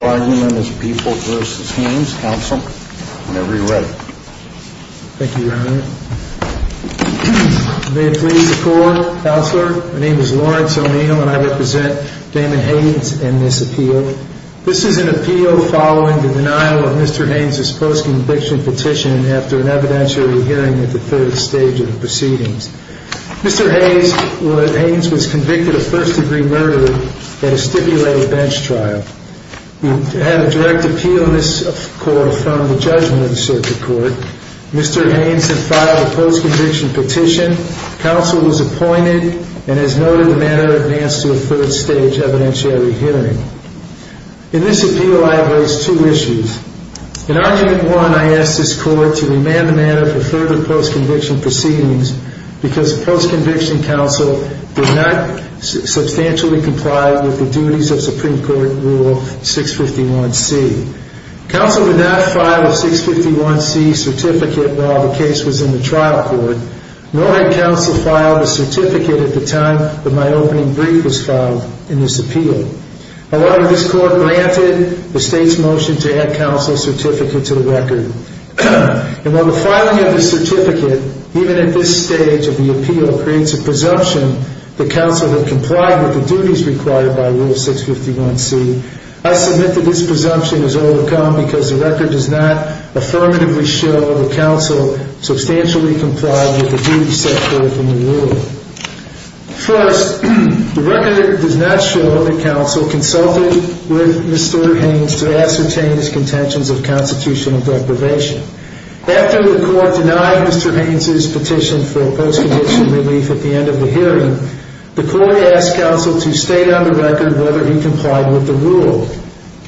This is an appeal following the denial of Mr. Haynes' post-conviction petition after an evidentiary hearing at the third stage of the proceedings. Mr. Haynes was convicted of first-degree murder at a stipulated bench trial. We have a direct appeal in this court to affirm the judgment of the circuit court. Mr. Haynes had filed a post-conviction petition, counsel was appointed, and has noted the matter advanced to a third stage evidentiary hearing. In this appeal, I have raised two issues. In argument one, I asked this court to remand the matter for further post-conviction proceedings because the post-conviction counsel did not substantially comply with the duties of Supreme Court Rule 651C. Counsel did not file a 651C certificate while the case was in the trial court. No head counsel filed a certificate at the time that my opening brief was filed in this appeal. A lot of this court granted the state's motion to add counsel's certificate to the record. And while the filing of the certificate, even at this stage of the appeal, creates a presumption that counsel had complied with the duties required by Rule 651C, I submit that this presumption is overcome because the record does not affirmatively show that counsel substantially complied with the duties set forth in the rule. First, the record does not show that counsel consulted with Mr. Haynes to ascertain his contentions of constitutional deprivation. After the court denied Mr. Haynes' petition for post- conviction relief at the end of the hearing, the court asked counsel to state on the record whether he complied with the rule.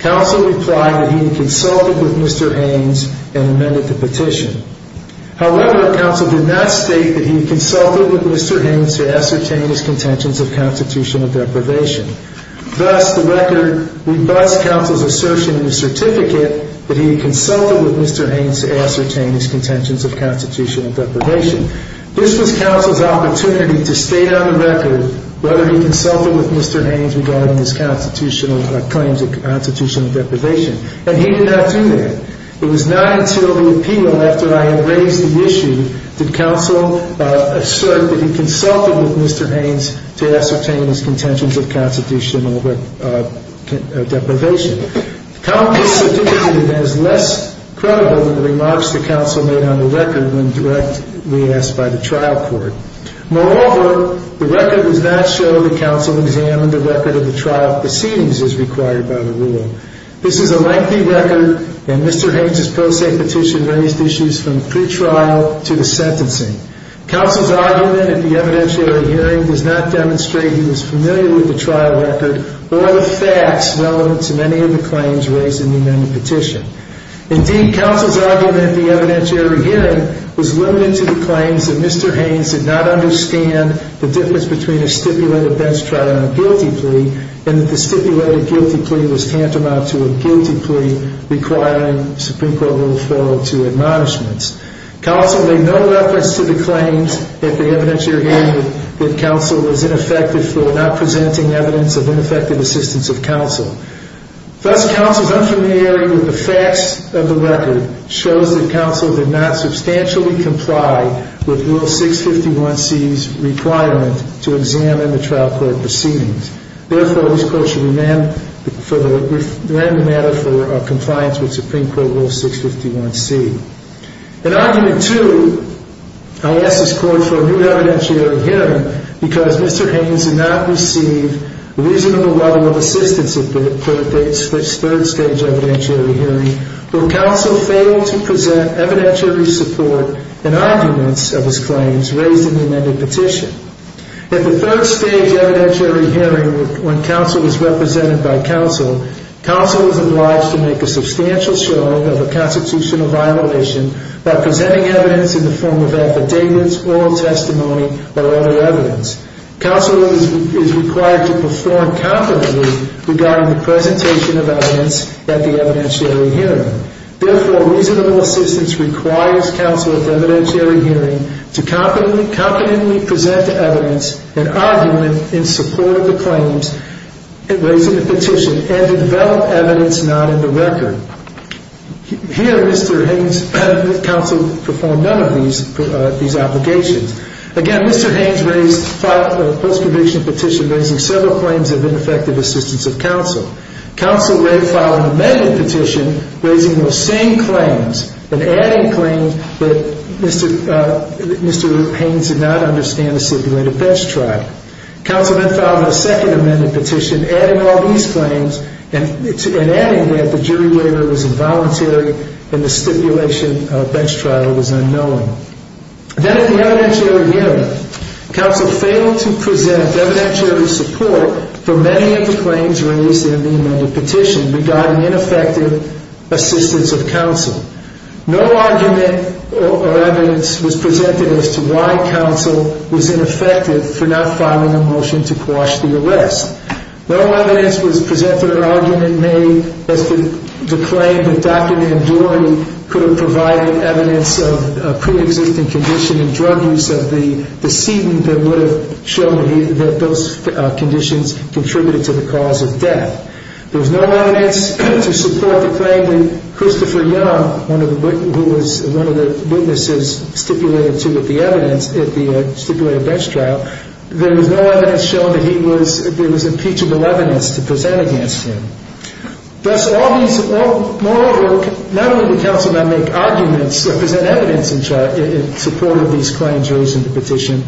Counsel replied that he consulted with Mr. Haynes and amended the record to state whether he consulted with Mr. Haynes to ascertain his contentions of constitutional deprivation. Thus, the record rebuts counsel's assertion in the certificate that he consulted with Mr. Haynes to ascertain his contentions of constitutional deprivation. This was counsel's opportunity to state on the record whether he consulted with Mr. Haynes regarding his constitutional claims of constitutional deprivation. And he did not do that. It was not until the appeal, after I had raised the issue, that counsel asserted that he consulted with Mr. Haynes to ascertain his contentions of constitutional deprivation. The comment in the certificate is less credible than the remarks that counsel made on the record when directly asked by the trial court. Moreover, the record does not show that counsel examined the record of the trial proceedings as required by the rule. This is a lengthy record, and Mr. Haynes' pro se petition raised issues from the pretrial to the sentencing. Counsel's argument at the evidentiary hearing does not demonstrate he was familiar with the trial record or the facts relevant to many of the claims raised in the amended petition. Indeed, counsel's argument at the evidentiary hearing was limited to the claims that Mr. Haynes did not understand the difference between a stipulated bench trial and a guilty plea and that the stipulated guilty plea was tantamount to a guilty plea requiring Supreme Court rule fell to admonishments. Counsel made no reference to the claims at the evidentiary hearing that counsel was ineffective for not presenting evidence of ineffective assistance of counsel. Thus, counsel's unfamiliarity with the facts of the record shows that counsel did not substantially comply with Rule 651C's requirement to amend the matter for compliance with Supreme Court Rule 651C. In argument two, I ask this Court for a new evidentiary hearing because Mr. Haynes did not receive reasonable level of assistance at this third stage evidentiary hearing where counsel failed to present evidentiary support in arguments of his claims raised in the amended petition. At the third stage evidentiary hearing when counsel was not represented by counsel, counsel was obliged to make a substantial showing of a constitutional violation by presenting evidence in the form of affidavits, oral testimony, or other evidence. Counsel is required to perform competently regarding the presentation of evidence at the evidentiary hearing. Therefore, reasonable assistance requires counsel at the evidentiary hearing to competently present the evidence in argument in support of the claims raised in the petition and to develop evidence not in the record. Here, Mr. Haynes, counsel performed none of these obligations. Again, Mr. Haynes raised a post-conviction petition raising several claims of ineffective assistance of counsel. Counsel may file an amended petition raising those same claims and adding claims that Mr. Haynes did not understand the stipulated bench trial. Counsel then filed a second amended petition adding all these claims and adding that the jury waiver was involuntary and the stipulation of bench trial was unknowing. Then at the evidentiary hearing, counsel failed to present evidentiary support for many of the claims raised in the amended petition regarding ineffective assistance of counsel. No argument or evidence was presented or argument made as to why counsel was ineffective for not filing a motion to quash the arrest. No evidence was presented or argument made as to the claim that Dr. Nandori could have provided evidence of a preexisting condition in drug use of the sedent that would have shown that those conditions contributed to the cause of death. There was no evidence to support the claim that Christopher Young, one of the witnesses stipulated to the evidence at the stipulated bench trial, there was no evidence showing that he was, there was impeachable evidence to present against him. Thus, all these, moreover, not only would counsel not make arguments or present evidence in support of these claims raised in the petition,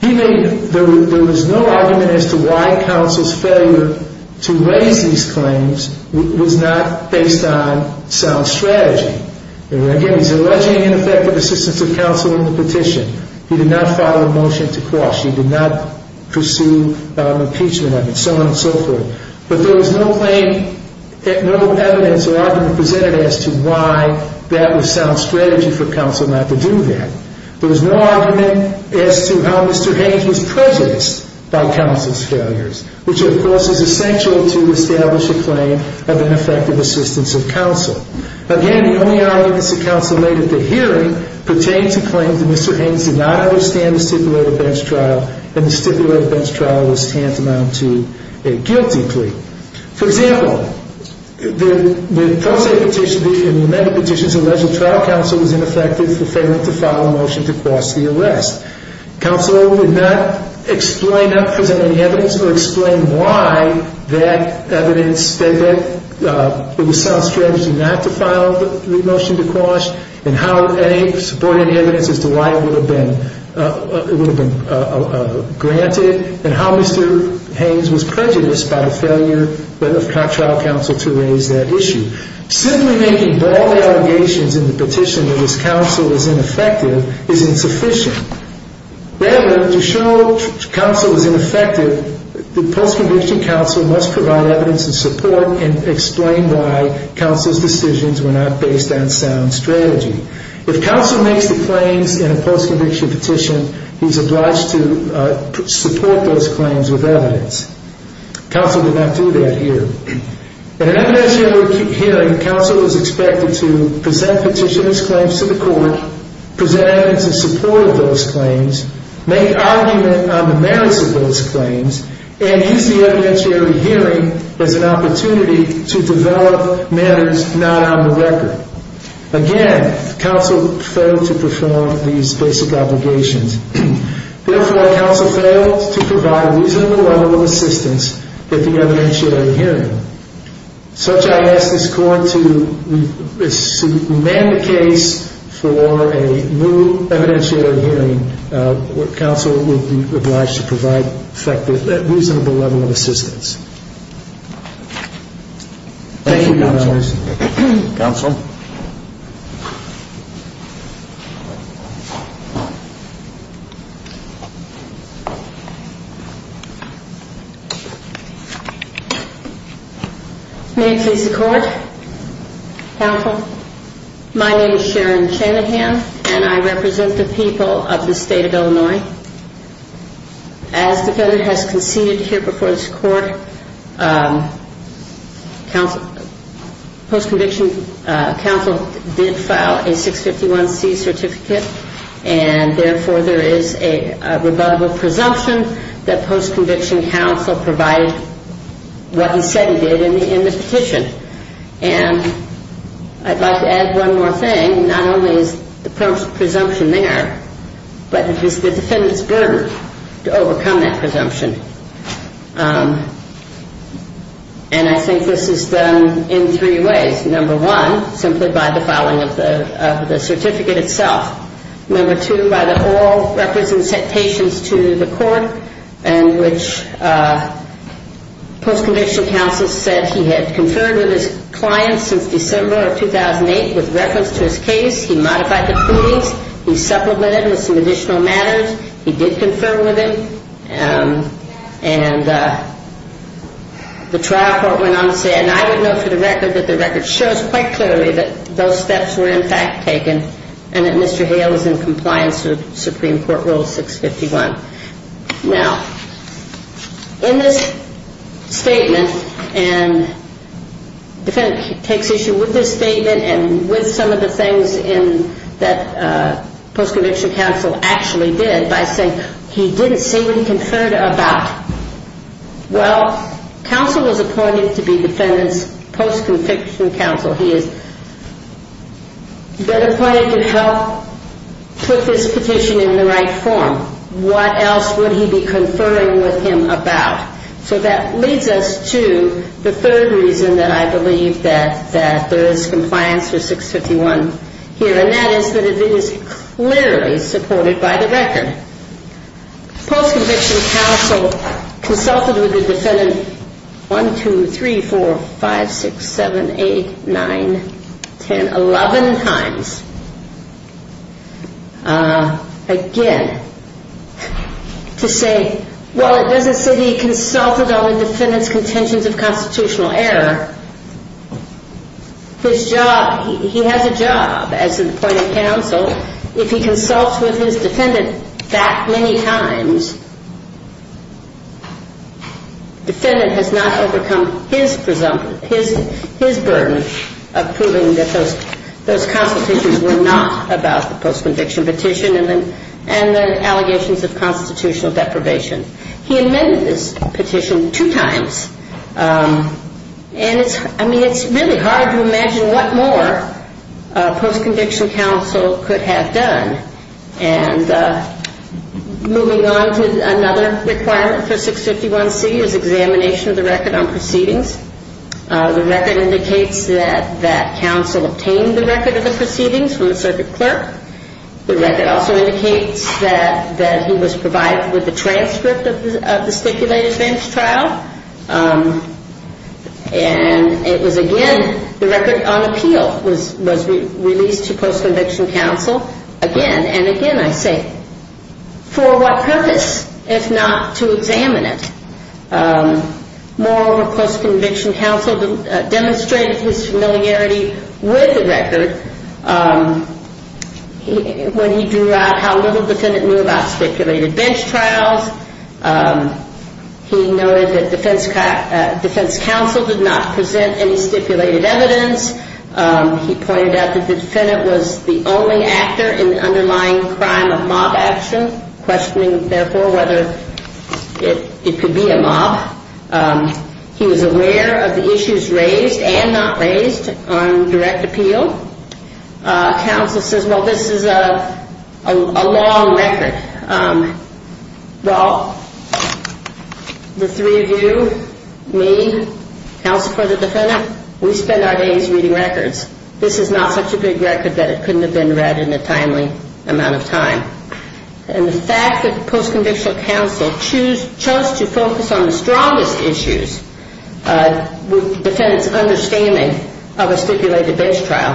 he made, there was no argument as to why counsel's failure to raise these claims was not based on sound strategy. Again, he's alleging an effect of assistance of counsel in the petition. He did not file a motion to quash. He did not pursue impeachment evidence, so on and so forth. But there was no claim, no evidence or argument presented as to why that was sound strategy for counsel not to do that. There was no argument as to how Mr. Hayes was prejudiced by counsel's failures, which of course is essential to establish a claim of an effective assistance of counsel. Again, the only argument that counsel made at the hearing pertained to claims that Mr. Hayes did not understand the stipulated bench trial and the stipulated bench trial was tantamount to a guilty plea. For example, the pro se petition, the amended petition's alleged trial counsel was ineffective for failing to file a motion to quash the arrest. Counsel would not explain, not present any evidence or explain why that evidence, that it was sound strategy not to file the motion to quash and how any supporting evidence as to why it would have been granted and how Mr. Hayes was prejudiced by the failure of trial counsel to raise that issue. Simply making bold allegations in the petition that this counsel was ineffective is insufficient. Rather, to show counsel was ineffective, the post-conviction counsel must provide evidence and support and explain why counsel's decisions were not based on sound strategy. If counsel makes the claims in a post-conviction petition, he's obliged to support those claims with evidence. Counsel would not do that here. In an evidentiary hearing, counsel is expected to present petitioners' claims to the court, present evidence in support of those claims, make argument on the merits of those claims, and use the evidentiary hearing as an opportunity to develop matters not on the record. Again, counsel failed to perform these basic obligations. Therefore, counsel failed to provide a reasonable level of assistance at the evidentiary hearing. Such, I ask this Court to amend the case for a new evidentiary hearing where counsel will be obliged to provide effective, reasonable level of assistance. Thank you, Your Honor. Thank you, counsel. May it please the Court. Counsel, my name is Sharon Shanahan, and I represent the people of the State of Illinois. As defendant has conceded here before this Court, I am concerned about the presumption that post-conviction counsel did file a 651C certificate, and therefore there is a rebuttable presumption that post-conviction counsel provided what he said he did in the petition. And I'd like to add one more thing. Not only is the presumption there, but it is the defendant's burden to overcome that presumption. And I think this is done in three ways. Number one, simply by the filing of the certificate itself. Number two, by the oral records and citations to the Court in which post-conviction counsel said he had confirmed with his clients since December of 2008 with reference to his case. He modified the proceedings. He supplemented with some additional matters. He did confirm with him. And the trial court went on to say, and I would note for the record that the record shows quite clearly that those steps were in fact taken, and that Mr. Hale is in compliance with Supreme Court Rule 651. Now, in this statement, and the defendant takes issue with this statement and with some of the things in that post-conviction counsel actually did by saying he didn't say what he conferred about, well, counsel was appointed to be defendant's post-conviction counsel. He has been appointed to help put this petition in the right form. What else would he be conferring with him about? So that leads us to the third reason that I believe that there is compliance with 651 here, and that is that it is clearly supported by the record. Post-conviction counsel consulted with the defendant 1, 2, 3, 4, 5, 6, 7, 8, 9, 10, 11 times, again, to say, well, it doesn't say he consulted on the defendant's contentions of constitutional error. His job, he has a job as an appointed counsel. If he consults with his defendant that many times, defendant has not overcome his presumption, his burden of proving that those constitutions were not about the post-conviction petition and the allegations of constitutional deprivation. He amended this petition two times, and it's really hard to imagine what more post-conviction counsel could have done. I mean, it's really hard to imagine what more post-conviction counsel could have done. And moving on to another requirement for 651C is examination of the record on proceedings. The record indicates that counsel obtained the record of the proceedings from the circuit clerk. The record also indicates that he was provided with the transcript of the stipulated bench trial. And it was, again, the record on appeal was provided to counsel. Again, and again, I say, for what purpose if not to examine it? Moral or post-conviction counsel demonstrated his familiarity with the record when he drew out how little defendant knew about stipulated bench trials. He noted that defense counsel did not have a compelling actor in the underlying crime of mob action, questioning, therefore, whether it could be a mob. He was aware of the issues raised and not raised on direct appeal. Counsel says, well, this is a long record. Well, the three of you, me, counsel for the record, we're going to look at it in a timely amount of time. And the fact that the post-conviction counsel chose to focus on the strongest issues, the defendant's understanding of a stipulated bench trial,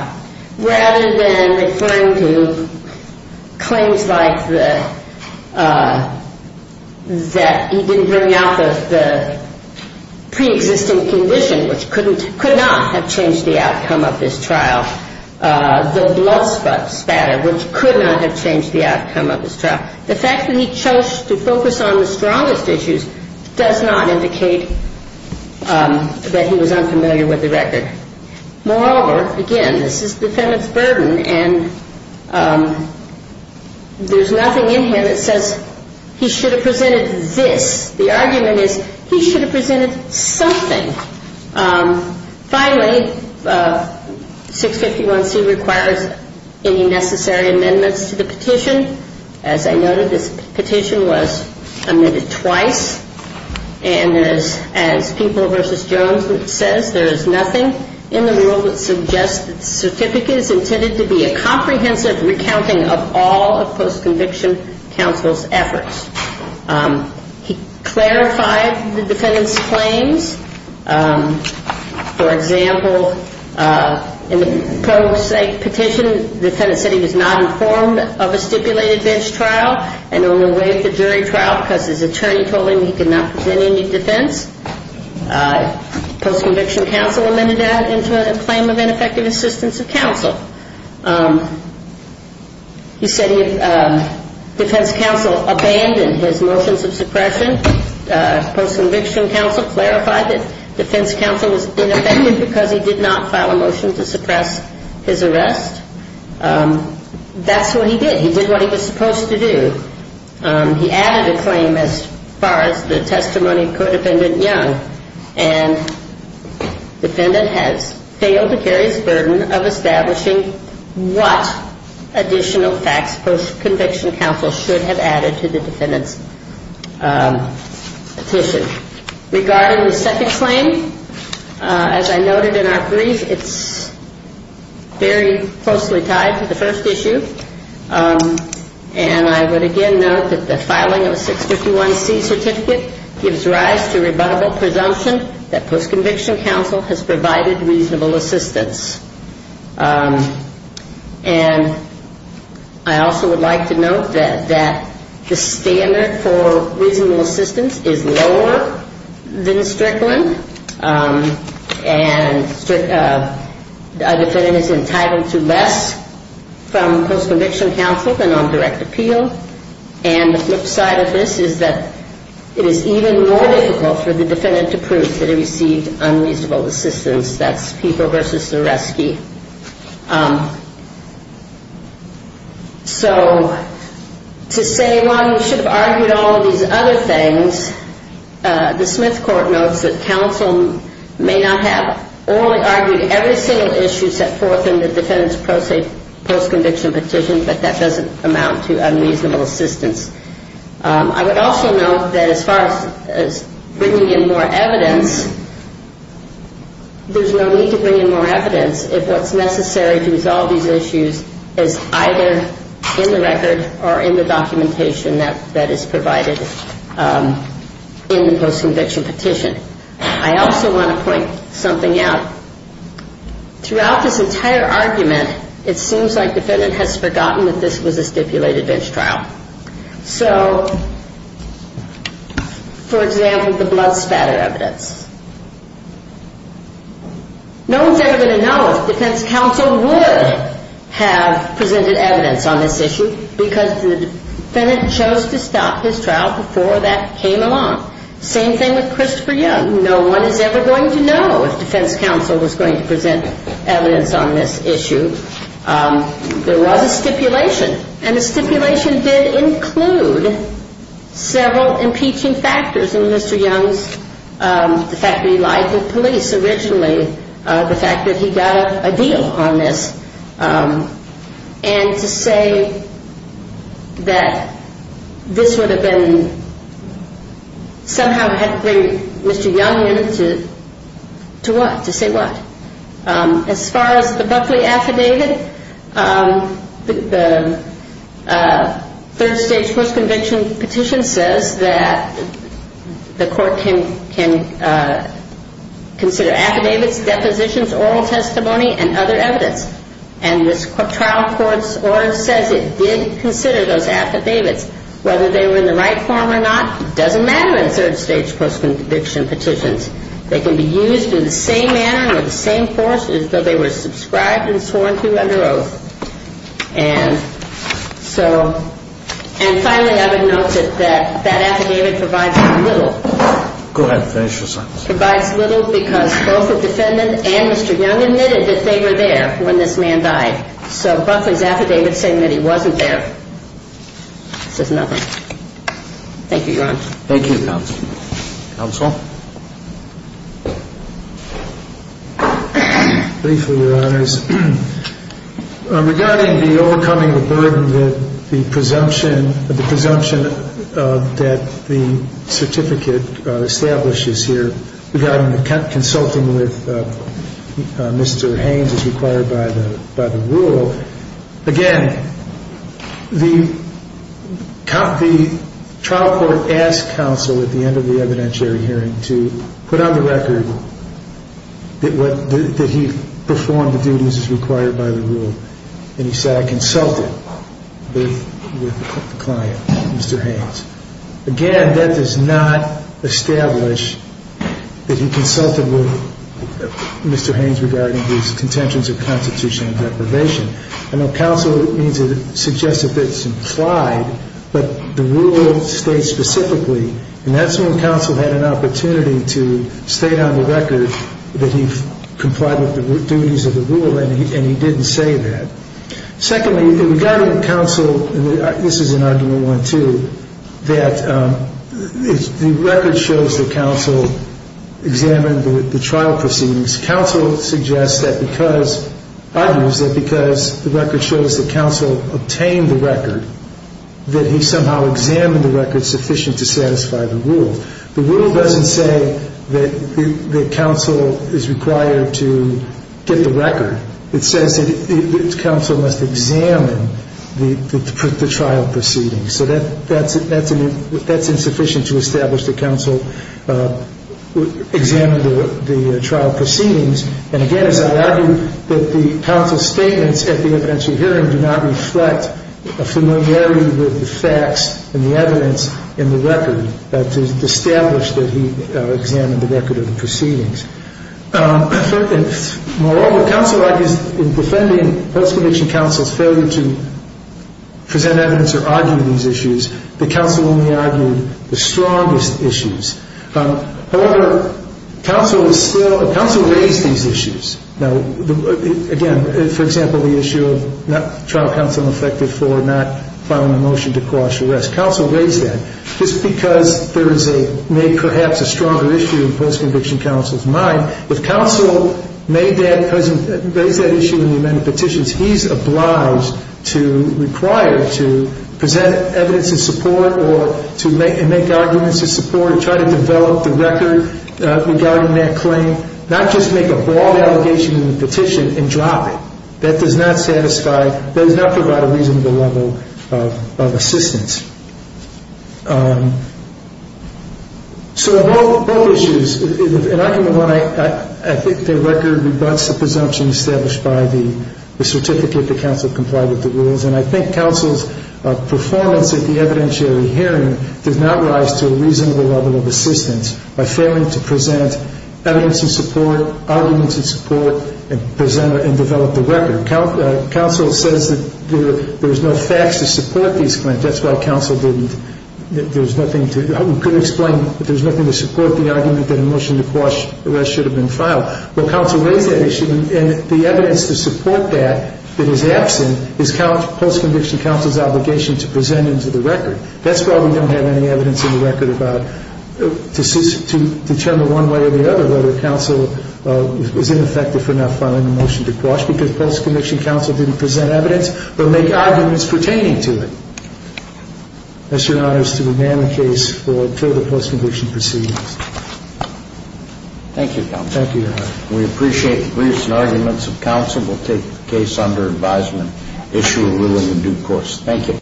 rather than referring to claims like that he didn't bring out the pre-existing condition, which could not have changed the outcome of this trial, the blood spot, spasticity of the condition, and the fact that he chose to focus on the strongest issues does not indicate that he was unfamiliar with the record. Moreover, again, this is the defendant's burden, and there's nothing in here that says he should have presented this. The argument is he should have presented something. Finally, 651C requires any necessary amendments to the petition. As I noted, this petition was omitted twice, and as People v. Jones says, there is nothing in the rule that suggests that the certificate is intended to be a comprehensive recounting of all of post-conviction counsel's efforts. He said he was not informed of a stipulated bench trial, and only waived the jury trial because his attorney told him he could not present any defense. Post-conviction counsel amended that into a claim of ineffective assistance of counsel. He said defense counsel abandoned his motions of suppressing his arrest. That's what he did. He did what he was supposed to do. He added a claim as far as the testimony of Codependent Young, and the defendant has failed to carry his burden of establishing what additional facts post-conviction counsel should have added to the petition. And I would again note that the filing of a 651C certificate gives rise to rebuttable presumption that post-conviction counsel has provided reasonable assistance. And I also would like to note that the standard for reasonable assistance is lower than the standard for direct appeal. And the standard for reasonable assistance is that the defendant is entitled to less from post-conviction counsel than on direct appeal. And the flip side of this is that it is even more difficult for the defendant to prove that he received unreasonable assistance. That's people versus the rescue. So to say, well, you should have argued all of these other things, the Smith Court notes that the defendant is entitled to reasonable assistance, but counsel may not have orally argued every single issue set forth in the defendant's post-conviction petition, but that doesn't amount to unreasonable assistance. I would also note that as far as bringing in more evidence, there's no need to bring in more evidence if what's necessary to resolve these issues is either in the record or in the documentation that is provided in the post-conviction petition. I also want to point something out. Throughout this entire argument, it seems like the defendant has forgotten that this was a stipulated bench trial. So, for example, the blood spatter evidence. No one's ever going to know if defense counsel would have presented evidence on this issue because the defendant chose to stop his trial before that came along. Same thing with Christopher Young. No one is ever going to know if defense counsel was going to present evidence on this issue. There was a stipulation, and the stipulation did include several impeaching factors in Mr. Young's, the fact that he lied to police originally, the fact that he got a deal on this, and to say that this would have been a major issue for the trial, and that somehow had to bring Mr. Young in to what? To say what? As far as the Buckley affidavit, the third stage post-conviction petition says that the court can consider affidavits, depositions, oral testimony and other evidence. And this trial court's order says it did consider those kind of third stage post-conviction petitions. They can be used in the same manner and with the same force as though they were subscribed and sworn to under oath. And so, and finally I would note that that affidavit provides little. Go ahead, finish your sentence. Provides little because both the defendant and Mr. Young admitted that they were there when this man died. So Buckley's affidavit saying that he wasn't there says nothing. Thank you, Your Honor. Thank you. Counsel? Briefly, Your Honors. Regarding the overcoming the burden that the presumption, the presumption that the certificate establishes here regarding the consulting with Mr. Haines as required by the rule, again, the trial court asked counsel in the case where he was talking about the end of the evidentiary hearing to put on the record that he performed the duties required by the rule. And he said, I consulted with the client, Mr. Haines. Again, that does not establish that he consulted with Mr. Haines regarding his contentions of constitutional deprivation. I know counsel means it suggests a bit simplified, but the rule states specifically, and that's when counsel had an opportunity to state on the record that he complied with the duties of the rule, and he didn't say that. Secondly, regarding counsel, this is an argument, too, that the record shows that counsel examined the trial proceedings. Counsel suggests that because, argues that because the record shows that counsel obtained the record, that he somehow examined the record sufficient to satisfy the rule. The rule doesn't say that counsel is required to get the record. It says that counsel must examine the trial proceedings. So that's insufficient to establish that counsel examined the trial proceedings. And again, as I argued, that the counsel's statements at the evidentiary hearing do not reflect a familiarity with the facts and the evidence in the record to establish that he examined the record of the proceedings. Moreover, counsel argues in defending post-conviction counsel's failure to present evidence or argue these issues, that counsel only argued the strongest issues. However, counsel is still – counsel raised these issues. Now, again, for example, the issue of not – trial counsel reflected for not filing a motion to cross-arrest. Counsel raised that. Just because there is a – made perhaps a stronger issue in post-conviction counsel's mind, if counsel made that – raised that issue in the amended petitions, he's obliged to require to present evidence in support or to make arguments in support and try to develop the record regarding that claim, not just make a broad allegation in the petition and drop it. That does not satisfy – that does not provide a reasonable level of assistance. So both issues – in argument one, I think the record rebuts the presumption established by the certificate that counsel complied with the rules. And I think counsel's performance at the evidentiary hearing does not rise to a reasonable level of assistance by failing to present evidence in support, arguments in support, and develop the record. Counsel says that there is no facts to support these claims. That's why counsel didn't – there's nothing to – couldn't explain that there's nothing to support the argument that a motion to cross-arrest should have been filed. Well, counsel raised that issue, and the evidence to support that, that is absent, is post-conviction counsel's obligation to present into the record. That's why we don't have any evidence in the record about – to determine one way or the other whether counsel is ineffective for not filing a motion to cross because post-conviction counsel didn't present evidence, but make arguments pertaining to it. It's an honor to demand the case for further post-conviction proceedings. Thank you, counsel. Thank you, Your Honor. We appreciate the briefs and arguments of counsel. We'll take the case under advisement, issue a ruling in due course. Thank you.